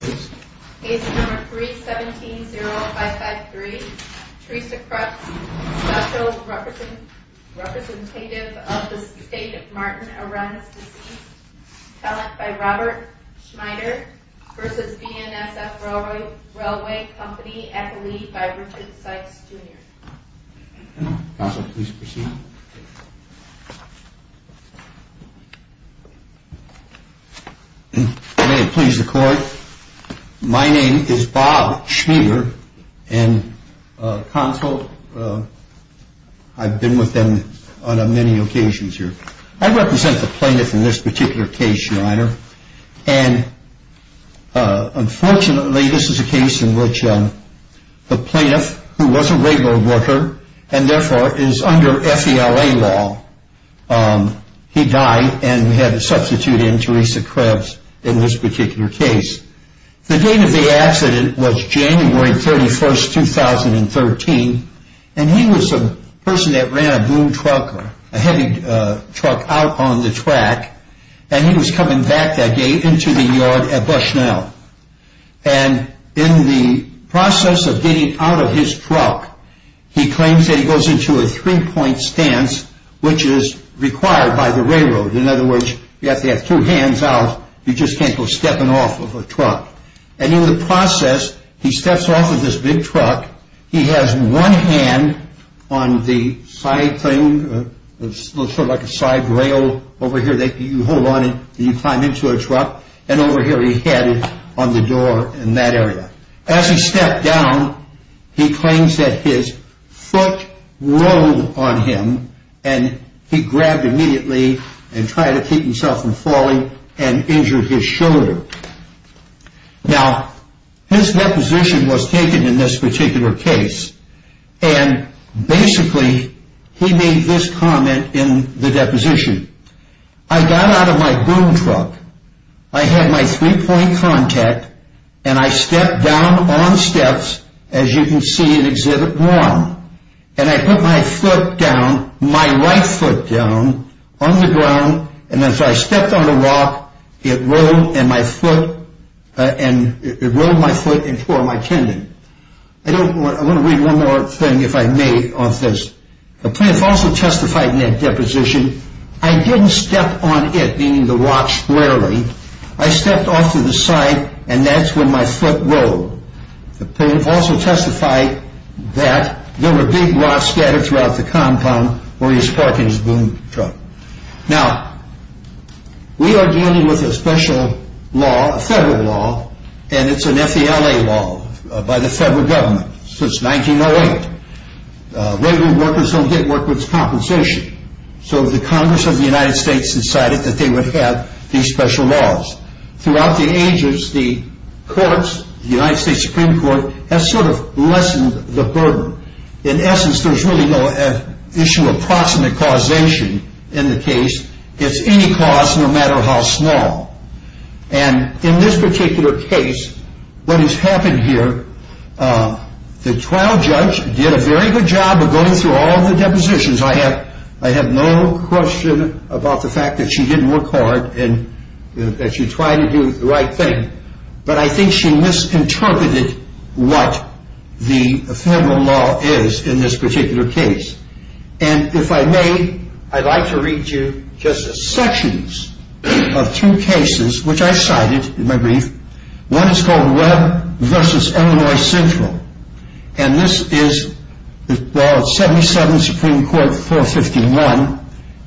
Case number 3-170-553, Teresa Kreps, special representative of the state of Martin Arends, deceased. Talent by Robert Schmeider, v. BNSF Railway Company, athlete by Richard Sykes, Jr. Counsel, please proceed. May it please the court, my name is Bob Schmeider, and counsel, I've been with them on many occasions here. I represent the plaintiff in this particular case, your honor, and unfortunately this is a case in which the plaintiff, who was a railroad worker, and therefore is under F.E.L.A. law, he died and had substituted in Teresa Kreps in this particular case. The date of the accident was January 31st, 2013, and he was a person that ran a blue truck, a heavy truck out on the track, and he was coming back that day into the yard at Bushnell. And in the process of getting out of his truck, he claims that he goes into a three-point stance, which is required by the railroad. In other words, you have to have two hands out, you just can't go stepping off of a truck. And in the process, he steps off of this big truck, he has one hand on the side thing, sort of like a side rail over here that you hold on and you climb into a truck, and over here he had it on the door in that area. As he stepped down, he claims that his foot rolled on him and he grabbed immediately and tried to keep himself from falling and injured his shoulder. Now, his deposition was taken in this particular case, and basically he made this comment in the deposition. I got out of my blue truck, I had my three-point contact, and I stepped down on steps, as you can see in Exhibit 1, and I put my foot down, my right foot down, on the ground, and as I stepped on the rock, it rolled my foot and tore my tendon. I want to read one more thing, if I may, off this. The plaintiff also testified in that deposition, I didn't step on it, meaning the rock squarely, I stepped off to the side and that's when my foot rolled. The plaintiff also testified that there were big rocks scattered throughout the compound where he was parking his blue truck. Now, we are dealing with a special law, a federal law, and it's an F.E.L.A. law by the federal government since 1908. Regular workers don't get workers' compensation, so the Congress of the United States decided that they would have these special laws. Throughout the ages, the courts, the United States Supreme Court, has sort of lessened the burden. In essence, there's really no issue of proximate causation in the case. It's any cause, no matter how small, and in this particular case, what has happened here, the trial judge did a very good job of going through all the depositions. I have no question about the fact that she didn't work hard and that she tried to do the right thing, but I think she misinterpreted what the federal law is in this particular case. And if I may, I'd like to read you just a section of two cases which I cited in my brief. One is called Webb v. Illinois Central, and this is 77 Supreme Court 451,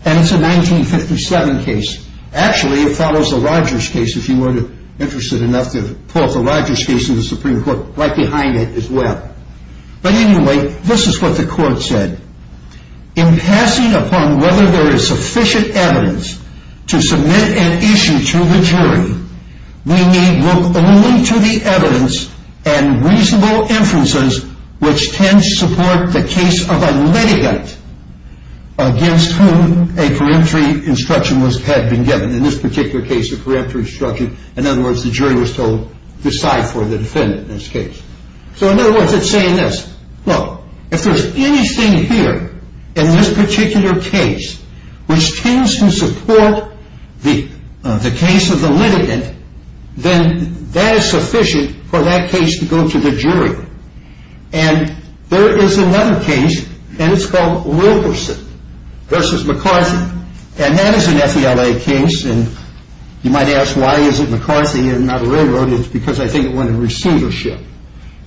and it's a 1957 case. Actually, it follows the Rogers case, if you were interested enough to pull up the Rogers case in the Supreme Court right behind it as well. But anyway, this is what the court said. In passing upon whether there is sufficient evidence to submit an issue to the jury, we may look only to the evidence and reasonable inferences which can support the case of a litigant against whom a peremptory instruction had been given. In this particular case, a peremptory instruction, in other words, the jury was told to decide for the defendant in this case. So in other words, it's saying this. Look, if there's anything here in this particular case which tends to support the case of the litigant, then that is sufficient for that case to go to the jury. And there is another case, and it's called Wilkerson v. McCarthy, and that is an FELA case. And you might ask, why is it McCarthy and not a railroad? It's because I think it went in receivership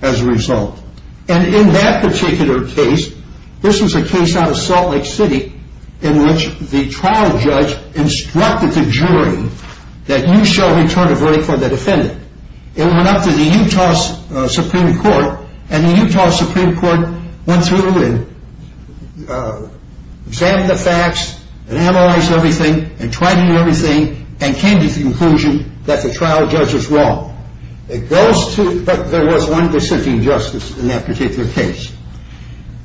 as a result. And in that particular case, this was a case out of Salt Lake City in which the trial judge instructed the jury that you shall return a verdict for the defendant. It went up to the Utah Supreme Court, and the Utah Supreme Court went through and examined the facts and analyzed everything and tried to do everything and came to the conclusion that the trial judge was wrong. But there was one dissenting justice in that particular case.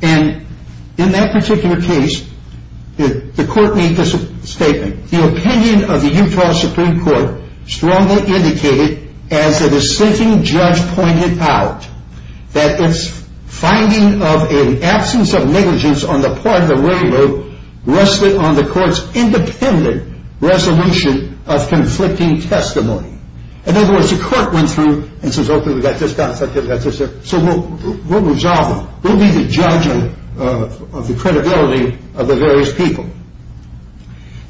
And in that particular case, the court made this statement. The opinion of the Utah Supreme Court strongly indicated, as the dissenting judge pointed out, that its finding of an absence of negligence on the part of the railroad rested on the court's independent resolution of conflicting testimony. In other words, the court went through and said, okay, we've got this, we've got that, so we'll resolve it. We'll be the judge of the credibility of the various people.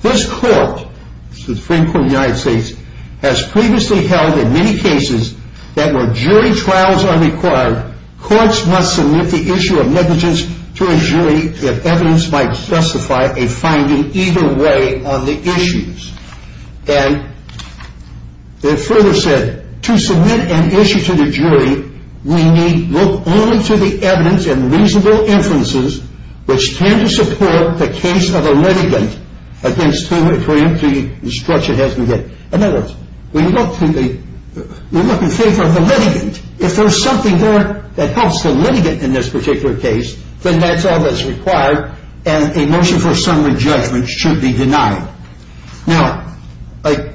This court, the Supreme Court of the United States, has previously held in many cases that when jury trials are required, courts must submit the issue of negligence to a jury if evidence might justify a finding either way on the issues. And it further said, to submit an issue to the jury, we need look only to the evidence and reasonable inferences which tend to support the case of a litigant against whom a jury instruction has been given. In other words, we look in favor of the litigant. If there's something there that helps the litigant in this particular case, then that's all that's required, and a motion for summary judgment should be denied. Now, I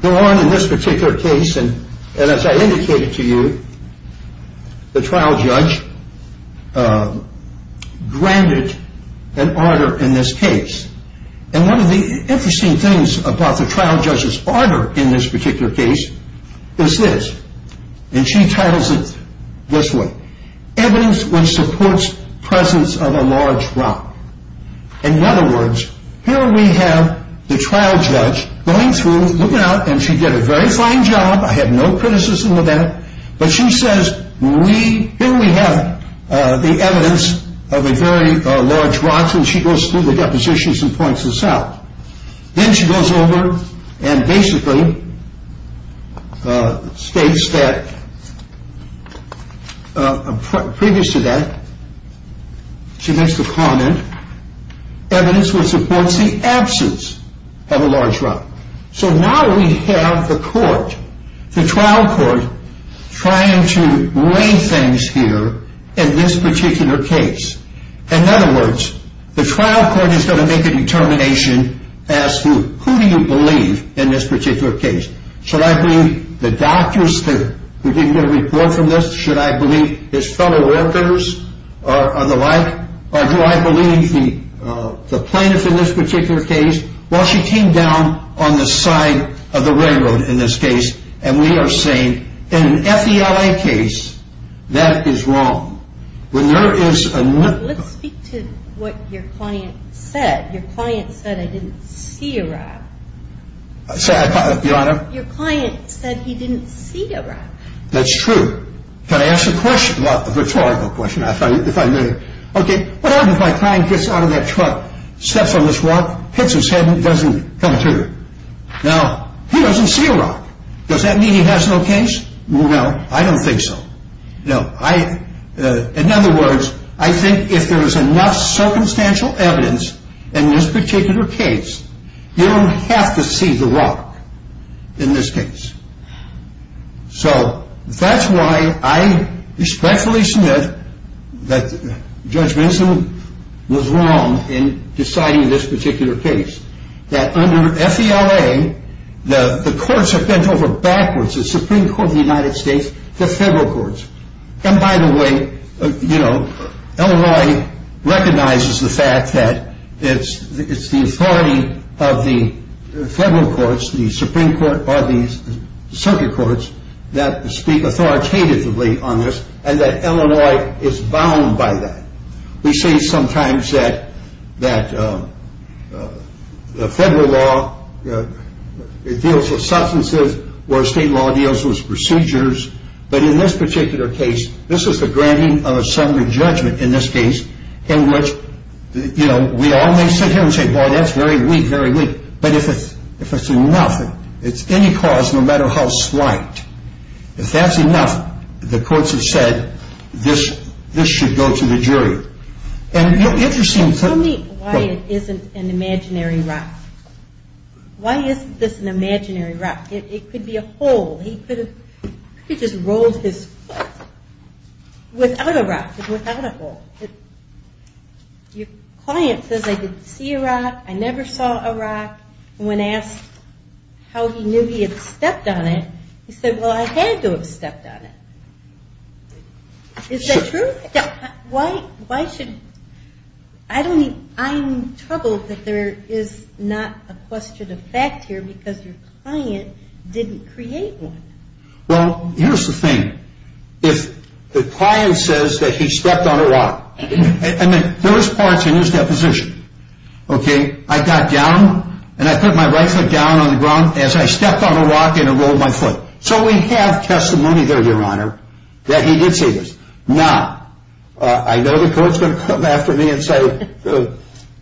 go on in this particular case, and as I indicated to you, the trial judge granted an order in this case. And one of the interesting things about the trial judge's order in this particular case is this, and she titles it this way. Evidence which supports presence of a large rock. In other words, here we have the trial judge going through, looking out, and she did a very fine job. I have no criticism of that. But she says, here we have the evidence of a very large rock, and she goes through the depositions and points this out. Then she goes over and basically states that, previous to that, she makes the comment, evidence which supports the absence of a large rock. So now we have the court, the trial court, trying to weigh things here in this particular case. In other words, the trial court is going to make a determination as to who do you believe in this particular case. Should I believe the doctors who didn't get a report from this? Should I believe his fellow workers or the like? Or do I believe the plaintiff in this particular case? Well, she came down on the side of the railroad in this case, and we are saying, in an FELA case, that is wrong. Let's speak to what your client said. Your client said I didn't see a rock. Your Honor? Your client said he didn't see a rock. That's true. Can I ask a question? A rhetorical question, if I may. Okay, what happens if my client gets out of that truck, steps on this rock, hits his head, and doesn't come through? Now, he doesn't see a rock. Does that mean he has no case? No, I don't think so. No. In other words, I think if there is enough circumstantial evidence in this particular case, you don't have to see the rock in this case. So that's why I respectfully submit that Judge Benson was wrong in deciding this particular case, that under FELA, the courts have bent over backwards, the Supreme Court of the United States, to federal courts. And by the way, you know, Illinois recognizes the fact that it's the authority of the federal courts, the Supreme Court, or the circuit courts, that speak authoritatively on this, and that Illinois is bound by that. We say sometimes that the federal law deals with substances where state law deals with procedures. But in this particular case, this is the granting of a summary judgment in this case, in which, you know, we all may sit here and say, boy, that's very weak, very weak. But if it's enough, it's any cause, no matter how slight, if that's enough, the courts have said this should go to the jury. Tell me why it isn't an imaginary rock. Why isn't this an imaginary rock? It could be a hole. He could have just rolled his foot without a rock, without a hole. Your client says, I didn't see a rock, I never saw a rock. When asked how he knew he had stepped on it, he said, well, I had to have stepped on it. Is that true? Yeah. Why should, I don't mean, I'm troubled that there is not a question of fact here because your client didn't create one. Well, here's the thing. If the client says that he stepped on a rock, I mean, there was parts in his deposition, okay? I got down and I put my right foot down on the ground as I stepped on a rock and I rolled my foot. So we have testimony there, Your Honor, that he did say this. Now, I know the court's going to come after me and say,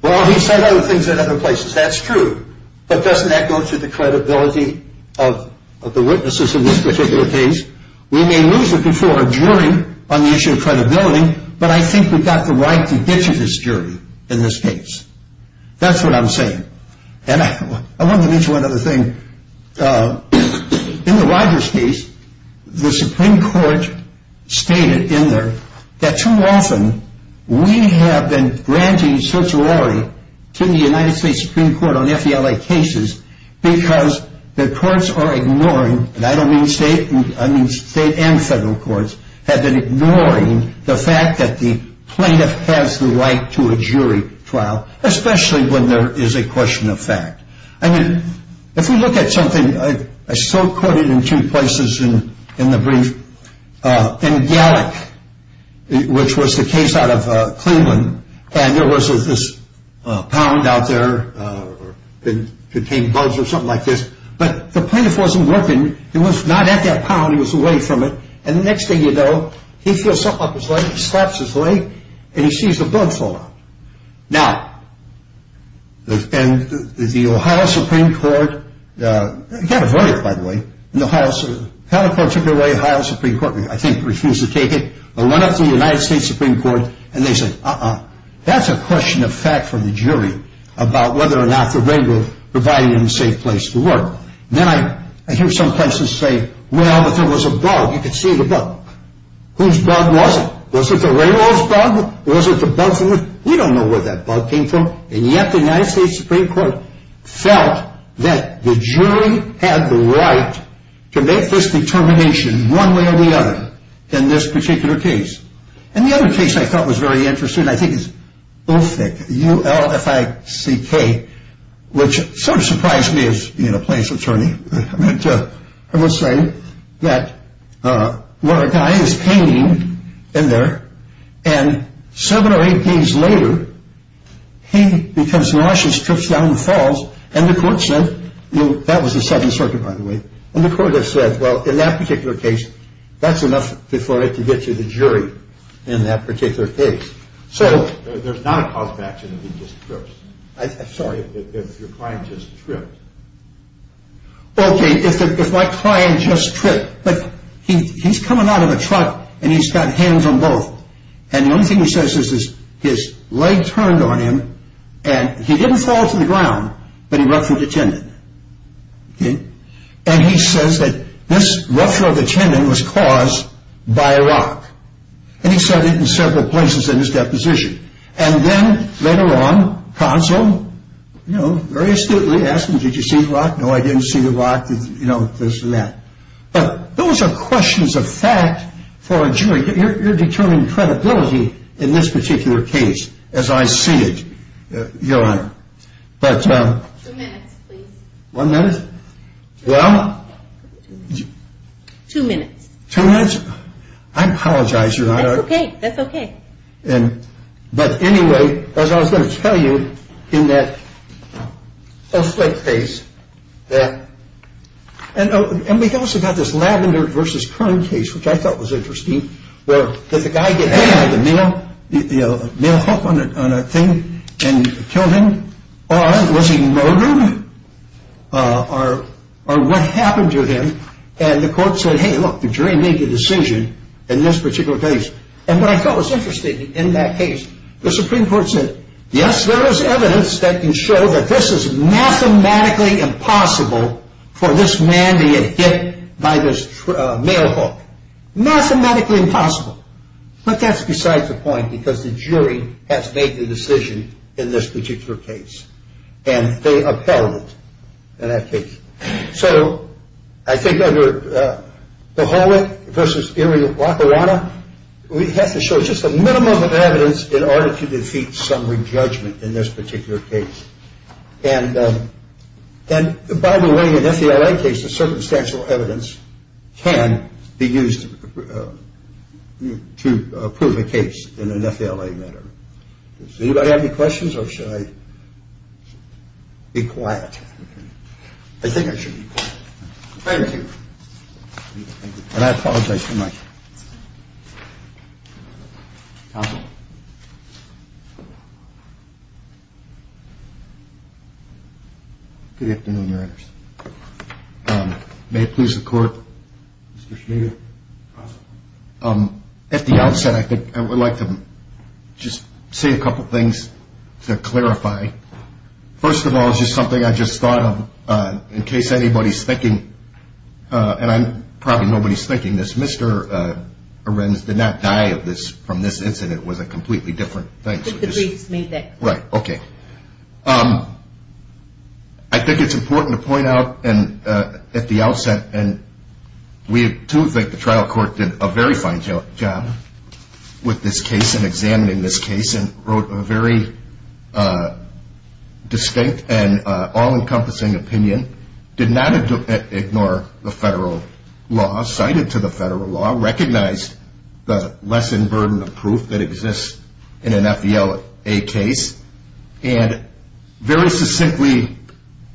well, he said other things in other places. That's true. But doesn't that go to the credibility of the witnesses in this particular case? We may lose the control of a jury on the issue of credibility, but I think we've got the right to ditch this jury in this case. That's what I'm saying. And I wanted to mention one other thing. In the Rogers case, the Supreme Court stated in there that too often we have been granting certiorari to the United States Supreme Court on FDLA cases because the courts are ignoring, and I don't mean state, I mean state and federal courts, have been ignoring the fact that the plaintiff has the right to a jury trial, especially when there is a question of fact. I mean, if we look at something, I still quote it in two places in the brief, in Gallick, which was the case out of Cleveland, and there was this pound out there that contained bugs or something like this. But the plaintiff wasn't working. He was not at that pound. He was away from it. And the next thing you know, he feels something up his leg. He slaps his leg, and he sees the bug fall out. Now, the Ohio Supreme Court got a verdict, by the way, and the Ohio Supreme Court took it away. The Ohio Supreme Court, I think, refused to take it. It went up to the United States Supreme Court, and they said, uh-uh. That's a question of fact for the jury about whether or not the ring was providing them a safe place to work. Then I hear some plaintiffs say, well, but there was a bug. You could see the bug. Whose bug was it? Was it the railroad's bug? Was it the bug from the – we don't know where that bug came from. And yet the United States Supreme Court felt that the jury had the right to make this determination one way or the other in this particular case. And the other case I thought was very interesting, I think, is Ulfick, U-L-F-I-C-K, which sort of surprised me as being a plaintiff's attorney. I mean, I must say that what a guy is painting in there, and seven or eight days later, he becomes nauseous, trips down and falls, and the court said – that was the Seventh Circuit, by the way – and the court has said, well, in that particular case, that's enough before it can get to the jury in that particular case. There's not a cause of action if he just trips. I'm sorry, if your client just tripped. Okay, if my client just tripped, but he's coming out of a truck and he's got hands on both, and the only thing he says is his leg turned on him and he didn't fall to the ground, but he ruptured the tendon. And he says that this rupture of the tendon was caused by a rock. And he said it in several places in his deposition. And then, later on, counsel, you know, very astutely asked him, did you see the rock? No, I didn't see the rock, you know, this and that. But those are questions of fact for a jury. You're determining credibility in this particular case, as I see it, Your Honor. But – Two minutes, please. One minute? Well – Two minutes. Two minutes? I apologize, Your Honor. That's okay, that's okay. But anyway, as I was going to tell you, in that post-late case that – and we also got this Lavender v. Kern case, which I thought was interesting, where did the guy get hit by the male hook on a thing and kill him? Or was he murdered? Or what happened to him? And the court said, hey, look, the jury made the decision in this particular case. And what I thought was interesting in that case, the Supreme Court said, yes, there is evidence that can show that this is mathematically impossible for this man to get hit by this male hook. Mathematically impossible. But that's besides the point because the jury has made the decision in this particular case. And they upheld it in that case. So I think that the Hollith v. Erie of Lackawanna has to show just a minimum of evidence in order to defeat some re-judgment in this particular case. And by the way, in an FALA case, the circumstantial evidence can be used to prove a case in an FALA manner. Does anybody have any questions or should I be quiet? I think I should be quiet. Thank you. And I apologize for my... Counsel. Good afternoon, Your Honors. May it please the Court. Mr. Schneider. At the outset, I think I would like to just say a couple things to clarify. First of all, it's just something I just thought of in case anybody's thinking, and probably nobody's thinking this, Mr. Arends did not die from this incident. It was a completely different thing. But the briefs made that clear. Right, okay. I think it's important to point out at the outset, and we too think the trial court did a very fine job with this case and examining this case and wrote a very distinct and all-encompassing opinion, did not ignore the federal law, cited to the federal law, recognized the lesson, burden of proof that exists in an FALA case, and very succinctly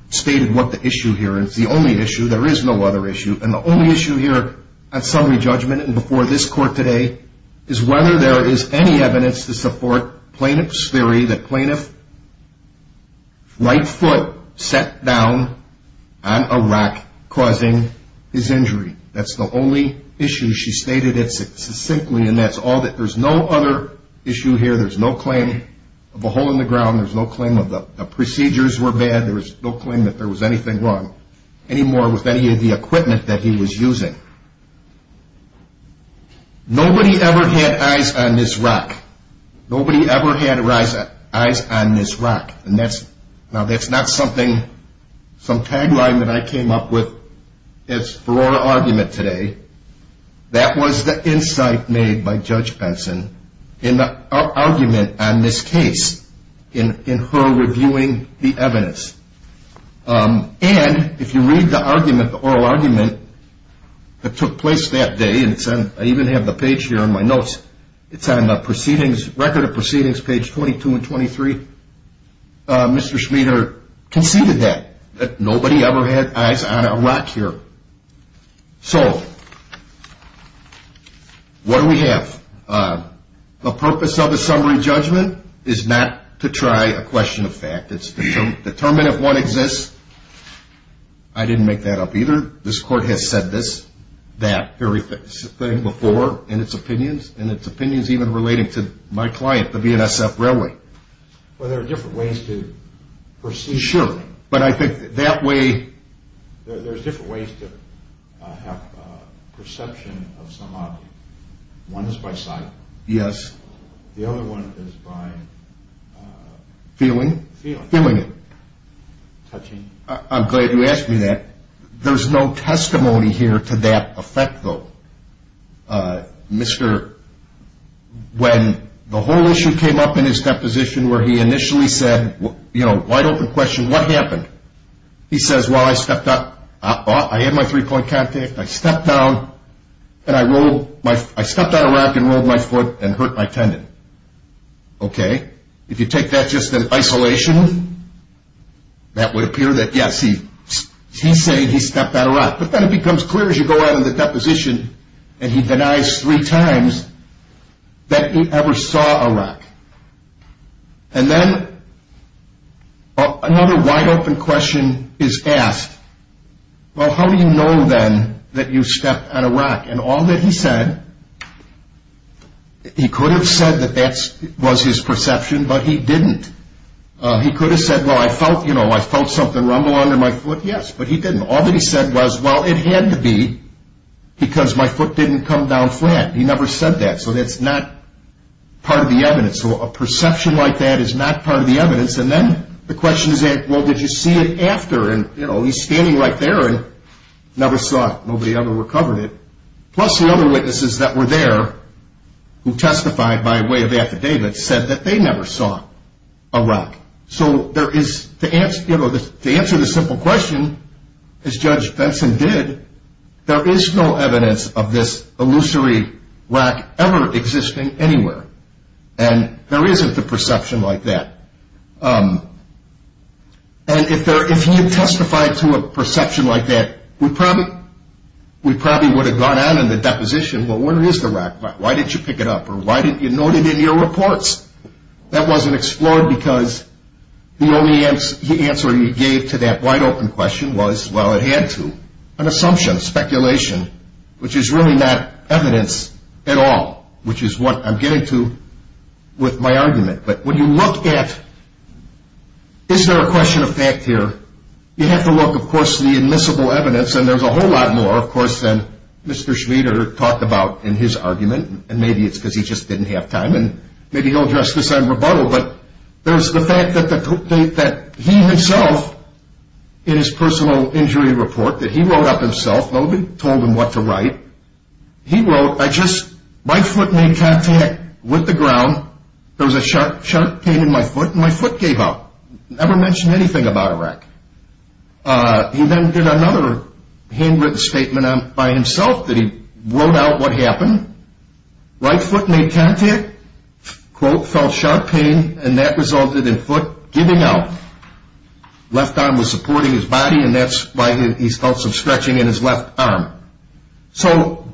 stated what the issue here is. The only issue, there is no other issue, and the only issue here at summary judgment and before this court today is whether there is any evidence to support plaintiff's theory that plaintiff's right foot sat down on a rack causing his injury. That's the only issue. She stated it succinctly, and that's all. There's no other issue here. There's no claim of a hole in the ground. There's no claim that the procedures were bad. There's no claim that there was anything wrong anymore with any of the equipment that he was using. Nobody ever had eyes on Ms. Rock. Nobody ever had eyes on Ms. Rock. Now, that's not something, some tagline that I came up with for our argument today. That was the insight made by Judge Benson in the argument on this case, in her reviewing the evidence. And if you read the argument, the oral argument that took place that day, and I even have the page here in my notes, it's on the proceedings, Record of Proceedings, page 22 and 23. Mr. Schmieder conceded that, that nobody ever had eyes on a rock here. So, what do we have? The purpose of the summary judgment is not to try a question of fact. It's to determine if one exists. I didn't make that up either. This Court has said this, that very thing before in its opinions, and its opinions even relating to my client, the BNSF Railway. Well, there are different ways to proceed. Sure. But I think that way... There's different ways to have a perception of some object. One is by sight. Yes. The other one is by... Feeling? Feeling. Feeling it. Touching. I'm glad you asked me that. There's no testimony here to that effect, though. Mr... When the whole issue came up in his deposition where he initially said, you know, wide open question, what happened? He says, well, I stepped up. I had my three-point contact. I stepped down and I rolled my... I stepped on a rock and rolled my foot and hurt my tendon. Okay. If you take that just in isolation, that would appear that, yes, he's saying he stepped on a rock. But then it becomes clear as you go out in the deposition and he denies three times that he ever saw a rock. And then another wide open question is asked, well, how do you know then that you stepped on a rock? And all that he said, he could have said that that was his perception, but he didn't. He could have said, well, I felt, you know, I felt something rumble under my foot. Yes, but he didn't. All that he said was, well, it had to be because my foot didn't come down flat. He never said that. So that's not part of the evidence. So a perception like that is not part of the evidence. And then the question is asked, well, did you see it after? And, you know, he's standing right there and never saw it. Nobody ever recovered it. Plus the other witnesses that were there who testified by way of affidavits said that they never saw a rock. So to answer the simple question, as Judge Benson did, there is no evidence of this illusory rock ever existing anywhere. And there isn't a perception like that. And if he had testified to a perception like that, we probably would have gone out in the deposition, well, where is the rock? Why didn't you pick it up? Or why didn't you note it in your reports? That wasn't explored because the only answer he gave to that wide-open question was, well, it had to. An assumption, speculation, which is really not evidence at all, which is what I'm getting to with my argument. But when you look at is there a question of fact here, you have to look, of course, at the admissible evidence. And there's a whole lot more, of course, than Mr. Schmieder talked about in his argument. And maybe it's because he just didn't have time. And maybe he'll address this on rebuttal. But there's the fact that he himself, in his personal injury report that he wrote up himself, nobody told him what to write. He wrote, I just, my foot made contact with the ground. There was a sharp pain in my foot, and my foot gave out. Never mentioned anything about a wreck. He then did another handwritten statement by himself that he wrote out what happened. Right foot made contact, quote, felt sharp pain, and that resulted in foot giving out. Left arm was supporting his body, and that's why he felt some stretching in his left arm. So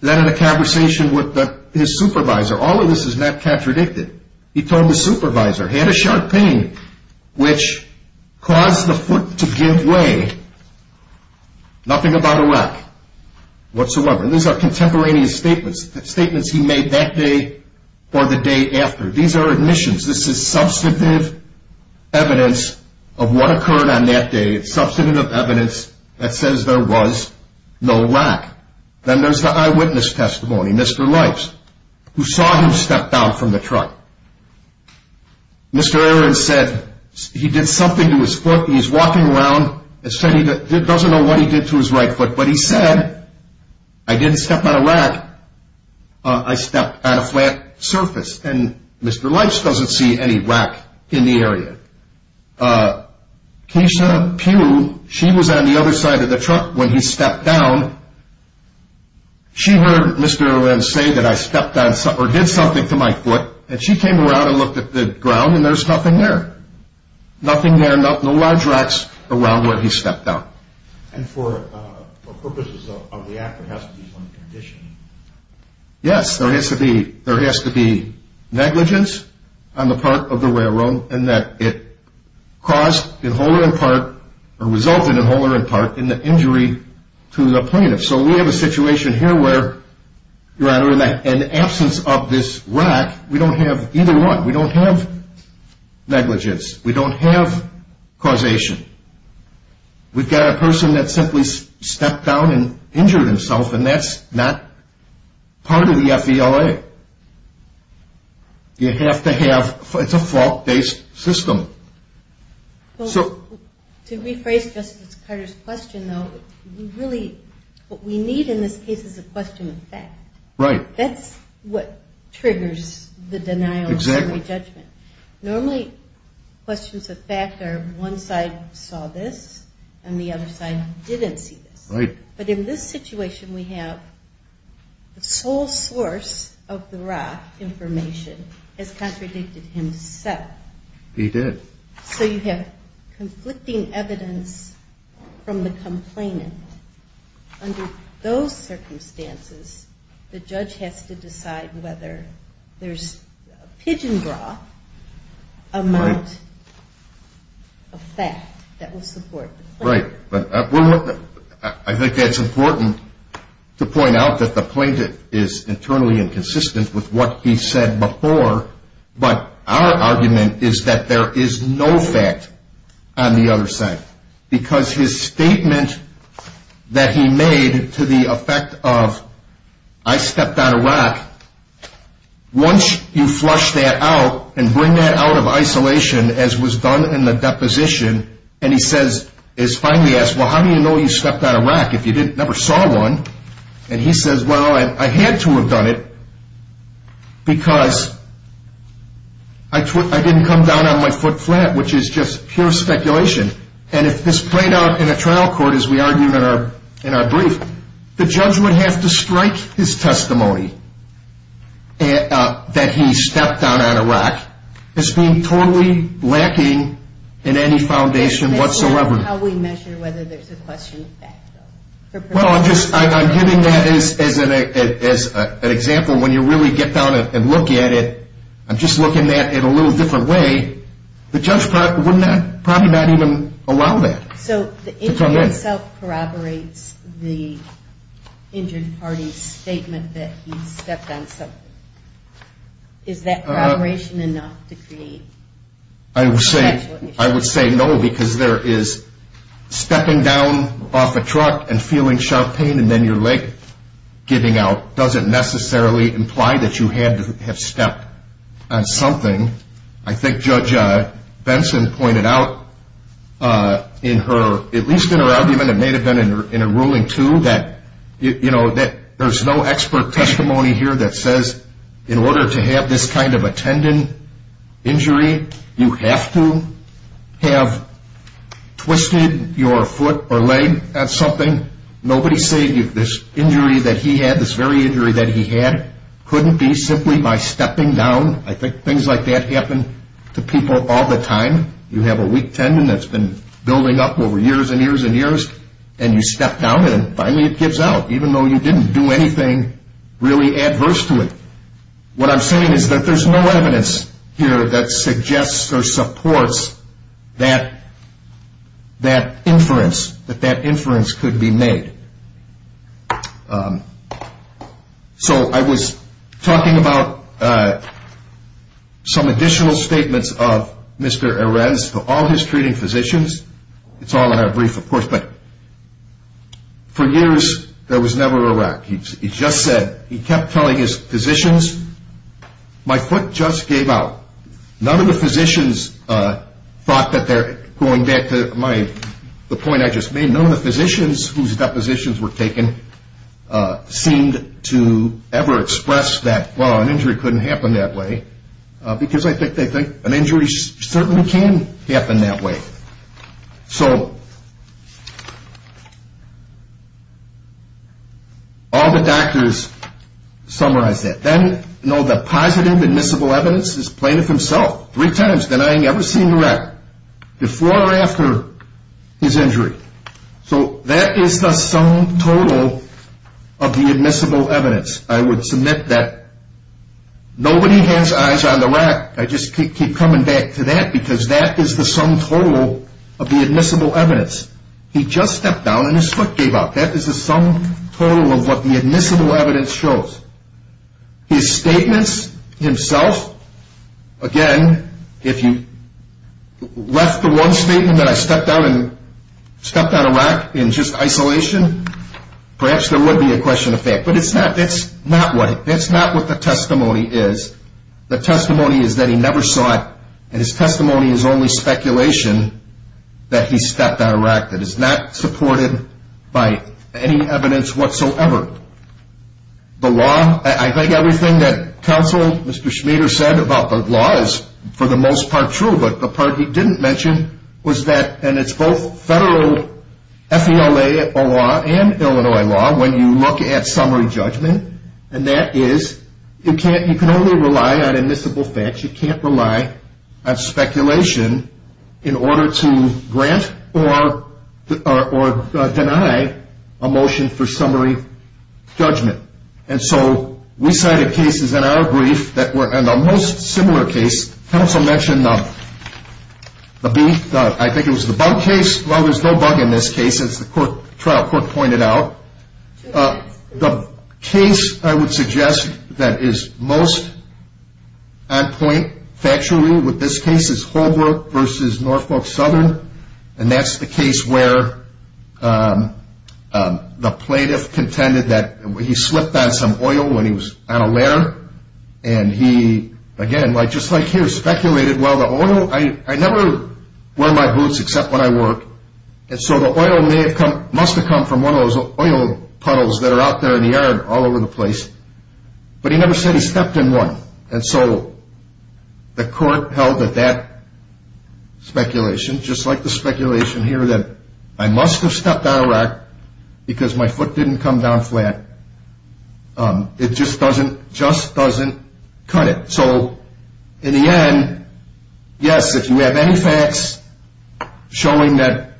then in a conversation with his supervisor, all of this is not contradicted. He told his supervisor, had a sharp pain which caused the foot to give way. Nothing about a wreck whatsoever. And these are contemporaneous statements, statements he made that day or the day after. These are admissions. This is substantive evidence of what occurred on that day. It's substantive evidence that says there was no wreck. Then there's the eyewitness testimony, Mr. Lipes, who saw him step down from the truck. Mr. Aaron said he did something to his foot. He's walking around and said he doesn't know what he did to his right foot. But he said, I didn't step on a rack. I stepped on a flat surface. And Mr. Lipes doesn't see any rack in the area. Keisha Pugh, she was on the other side of the truck when he stepped down. She heard Mr. Aaron say that I stepped on or did something to my foot, and she came around and looked at the ground, and there's nothing there. Nothing there, no large racks around where he stepped down. And for purposes of the act, there has to be some conditioning. Yes, there has to be negligence on the part of the railroad in that it caused in whole or in part or resulted in whole or in part in the injury to the plaintiff. So we have a situation here where, in the absence of this rack, we don't have either one. We don't have negligence. We don't have causation. We've got a person that simply stepped down and injured himself, and that's not part of the FVLA. You have to have, it's a fault-based system. To rephrase Justice Carter's question, though, what we need in this case is a question of fact. Right. Exactly. Normally, questions of fact are one side saw this and the other side didn't see this. Right. But in this situation, we have the sole source of the rack information has contradicted himself. He did. So you have conflicting evidence from the complainant. Under those circumstances, the judge has to decide whether there's a pigeon bra amount of fact that will support the claim. Right. I think it's important to point out that the plaintiff is internally inconsistent with what he said before, but our argument is that there is no fact on the other side because his statement that he made to the effect of, I stepped on a rack, once you flush that out and bring that out of isolation as was done in the deposition, and he says, is finally asked, well, how do you know you stepped on a rack if you never saw one? And he says, well, I had to have done it because I didn't come down on my foot flat, which is just pure speculation. And if this played out in a trial court, as we argued in our brief, the judge would have to strike his testimony that he stepped on a rack as being totally lacking in any foundation whatsoever. How we measure whether there's a question of fact, though. Well, I'm giving that as an example. When you really get down and look at it, I'm just looking at it in a little different way. The judge probably would not even allow that. So the injury itself corroborates the injured party's statement that he stepped on something. Is that corroboration enough to create a factual issue? I would say no because there is stepping down off a truck and feeling sharp pain and then your leg giving out doesn't necessarily imply that you had to have stepped on something. I think Judge Benson pointed out, at least in her argument, it may have been in a ruling too, that there's no expert testimony here that says in order to have this kind of a tendon injury, you have to have twisted your foot or leg at something. Nobody's saying this injury that he had, this very injury that he had, couldn't be simply by stepping down. I think things like that happen to people all the time. You have a weak tendon that's been building up over years and years and years, and you step down and finally it gives out, even though you didn't do anything really adverse to it. What I'm saying is that there's no evidence here that suggests or supports that inference could be made. So I was talking about some additional statements of Mr. Arends to all his treating physicians. It's all in a brief, of course, but for years there was never a wreck. He just said, he kept telling his physicians, my foot just gave out. None of the physicians thought that they're going back to the point I just made. None of the physicians whose depositions were taken seemed to ever express that, well, an injury couldn't happen that way, because I think they think an injury certainly can happen that way. So all the doctors summarized that. Then, you know, the positive admissible evidence is Plaintiff himself, three times denying ever seeing the wreck, before or after his injury. So that is the sum total of the admissible evidence. I would submit that nobody has eyes on the wreck. I just keep coming back to that, because that is the sum total of the admissible evidence. He just stepped down and his foot gave out. That is the sum total of what the admissible evidence shows. His statements himself, again, if you left the one statement that I stepped on a wreck in just isolation, perhaps there would be a question of fact. But that's not what the testimony is. The testimony is that he never saw it, and his testimony is only speculation that he stepped on a wreck. It is not supported by any evidence whatsoever. The law, I think everything that counsel, Mr. Schmader, said about the law is for the most part true. But the part he didn't mention was that, and it's both federal FELA law and Illinois law, when you look at summary judgment, and that is you can only rely on admissible facts. You can't rely on speculation in order to grant or deny a motion for summary judgment. And so we cited cases in our brief that were in a most similar case. Counsel mentioned the beef. I think it was the bug case. Well, there's no bug in this case, as the trial court pointed out. The case I would suggest that is most on point factually with this case is Holbrook v. Norfolk Southern. And that's the case where the plaintiff contended that he slipped on some oil when he was on a ladder. And he, again, just like here, speculated, well, the oil, I never wear my boots except when I work. And so the oil must have come from one of those oil puddles that are out there in the yard all over the place. But he never said he stepped in one. And so the court held that that speculation, just like the speculation here that I must have stepped on a rock because my foot didn't come down flat, it just doesn't cut it. So in the end, yes, if you have any facts showing that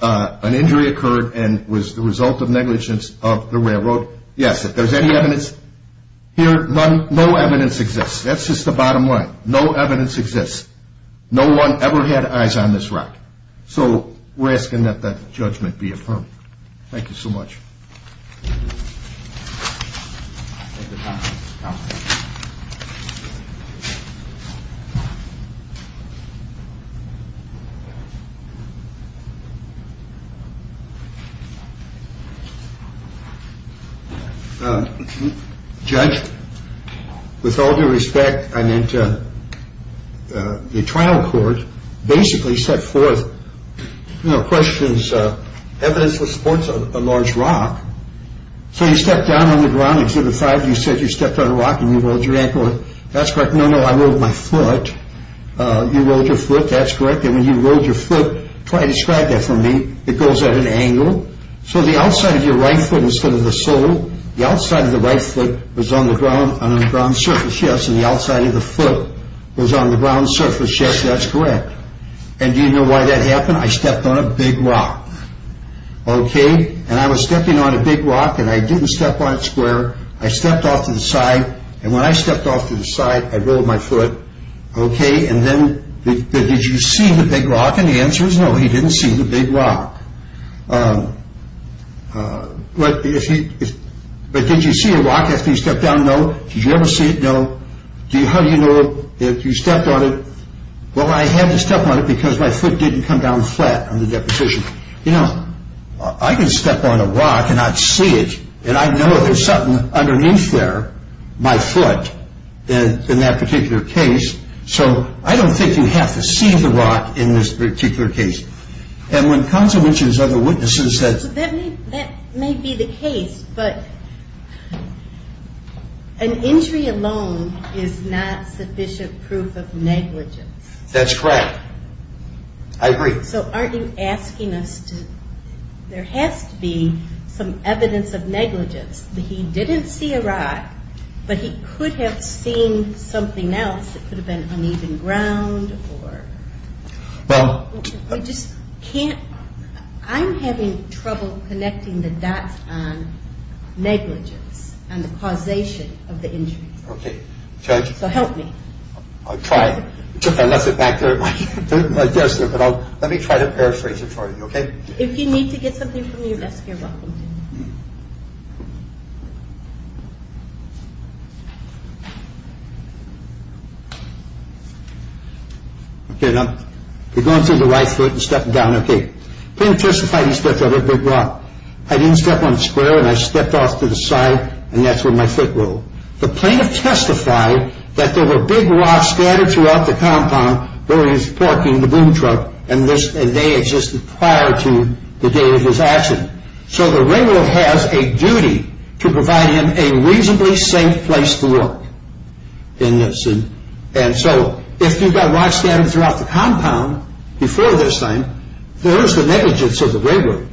an injury occurred and was the result of negligence of the railroad, yes, if there's any evidence. Here, no evidence exists. That's just the bottom line. No evidence exists. No one ever had eyes on this rock. So we're asking that that judgment be affirmed. Thank you so much. Judge, with all due respect, I meant the trial court basically set forth questions, evidence that supports a large rock. So you stepped down on the ground. Exhibit 5, you said you stepped on a rock and you rolled your ankle. That's correct. No, no, I rolled my foot. You rolled your foot. That's correct. And when you rolled your foot, try to describe that for me. It goes at an angle. So the outside of your right foot instead of the sole, the outside of the right foot was on the ground, on the ground surface. Yes, and the outside of the foot was on the ground surface. Yes, that's correct. And do you know why that happened? I stepped on a big rock, okay? And I was stepping on a big rock and I didn't step on it square. I stepped off to the side. And when I stepped off to the side, I rolled my foot, okay? And then did you see the big rock? And the answer is no, he didn't see the big rock. But did you see a rock after you stepped down? No. Did you ever see it? No. How do you know if you stepped on it? Well, I had to step on it because my foot didn't come down flat on the deposition. You know, I can step on a rock and not see it. And I know there's something underneath there, my foot, in that particular case. So I don't think you have to see the rock in this particular case. So that may be the case, but an injury alone is not sufficient proof of negligence. That's correct. I agree. So aren't you asking us to – there has to be some evidence of negligence. He didn't see a rock, but he could have seen something else. It could have been uneven ground or – We just can't – I'm having trouble connecting the dots on negligence and the causation of the injury. Okay. Judge? So help me. I'll try. I took my lesson back there at my – but let me try to paraphrase it for you, okay? If you need to get something from your desk, you're welcome to. Okay. Okay, now we're going through the right foot and stepping down. Okay. Plaintiff testified he stepped over a big rock. I didn't step on a square, and I stepped off to the side, and that's where my foot rolled. The plaintiff testified that there were big rocks scattered throughout the compound where he was parking the boom truck, and they existed prior to the day of his accident. So the railroad has a duty to provide him a reasonably safe place to work in this. And so if you've got rocks scattered throughout the compound before this time, there is the negligence of the railroad.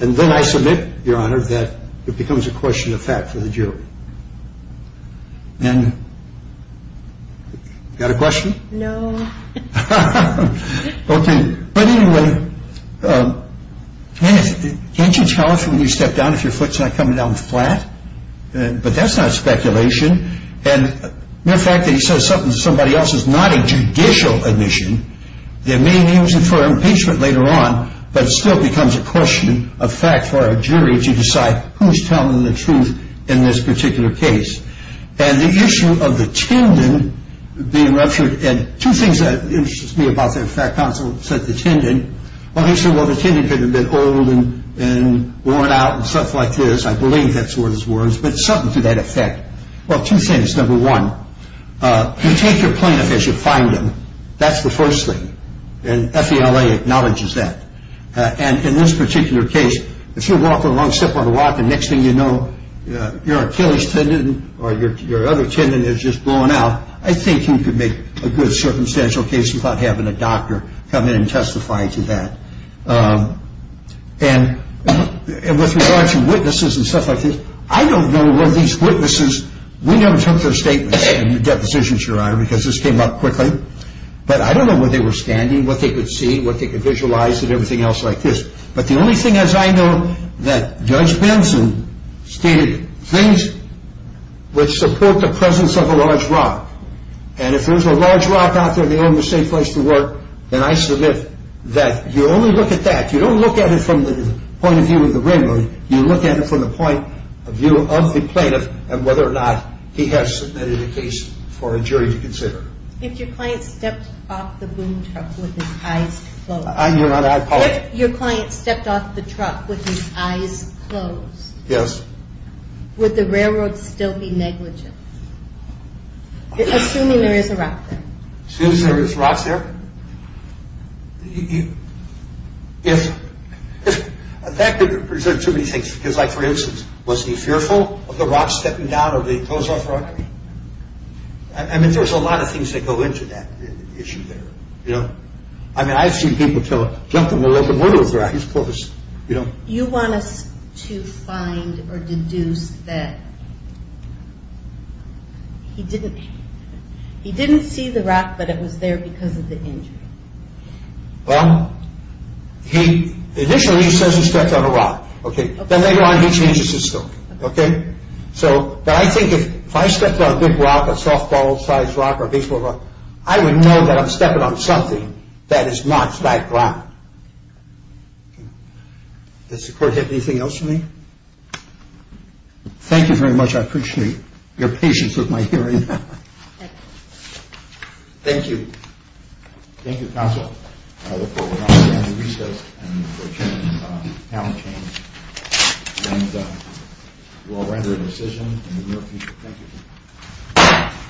And then I submit, Your Honor, that it becomes a question of fact for the jury. And – got a question? No. Okay. But anyway, can't you tell us when you step down if your foot's not coming down flat? But that's not speculation. And the fact that he says something to somebody else is not a judicial admission. There may be reason for impeachment later on, but it still becomes a question of fact for a jury to decide who's telling the truth in this particular case. And the issue of the Tandon being ruptured – two things that interest me about the fact counsel said to Tandon. Well, he said, Well, the Tandon could have been old and worn out and stuff like this. I believe that's what his words, but something to that effect. Well, two things. Number one, you take your plaintiff as you find him. That's the first thing. And FELA acknowledges that. And in this particular case, if you're walking a long step on a rock and the next thing you know your Achilles tendon or your other tendon has just blown out, I think you could make a good circumstantial case about having a doctor come in and testify to that. And with regard to witnesses and stuff like this, I don't know where these witnesses – we never took their statements in the depositions, Your Honor, because this came up quickly. But I don't know where they were standing, what they could see, what they could visualize and everything else like this. But the only thing, as I know, that Judge Benson stated, things which support the presence of a large rock. And if there's a large rock out there and they own the safe place to work, then I submit that you only look at that. You don't look at it from the point of view of the ringer. You look at it from the point of view of the plaintiff and whether or not he has submitted a case for a jury to consider. If your client stepped off the boom truck with his eyes closed. Your Honor, I apologize. If your client stepped off the truck with his eyes closed. Yes. Would the railroad still be negligent? Assuming there is a rock there. Assuming there is rocks there? If – that could represent too many things. Because, like, for instance, was he fearful of the rock stepping down or being closed off for robbery? I mean, there's a lot of things that go into that issue there, you know? I mean, I've seen people jump in the middle of the road with their eyes closed, you know? You want us to find or deduce that he didn't see the rock, but it was there because of the injury? Well, initially he says he stepped on a rock, okay? Then later on he changes his story, okay? So, but I think if I stepped on a big rock, a softball-sized rock or a baseball rock, I would know that I'm stepping on something that is not that rock. Does the Court have anything else for me? Thank you very much. I appreciate your patience with my hearing. Thank you. Thank you, Counsel. I look forward to the end of recess and for a change in talent change. And we'll render a decision in the near future. Thank you.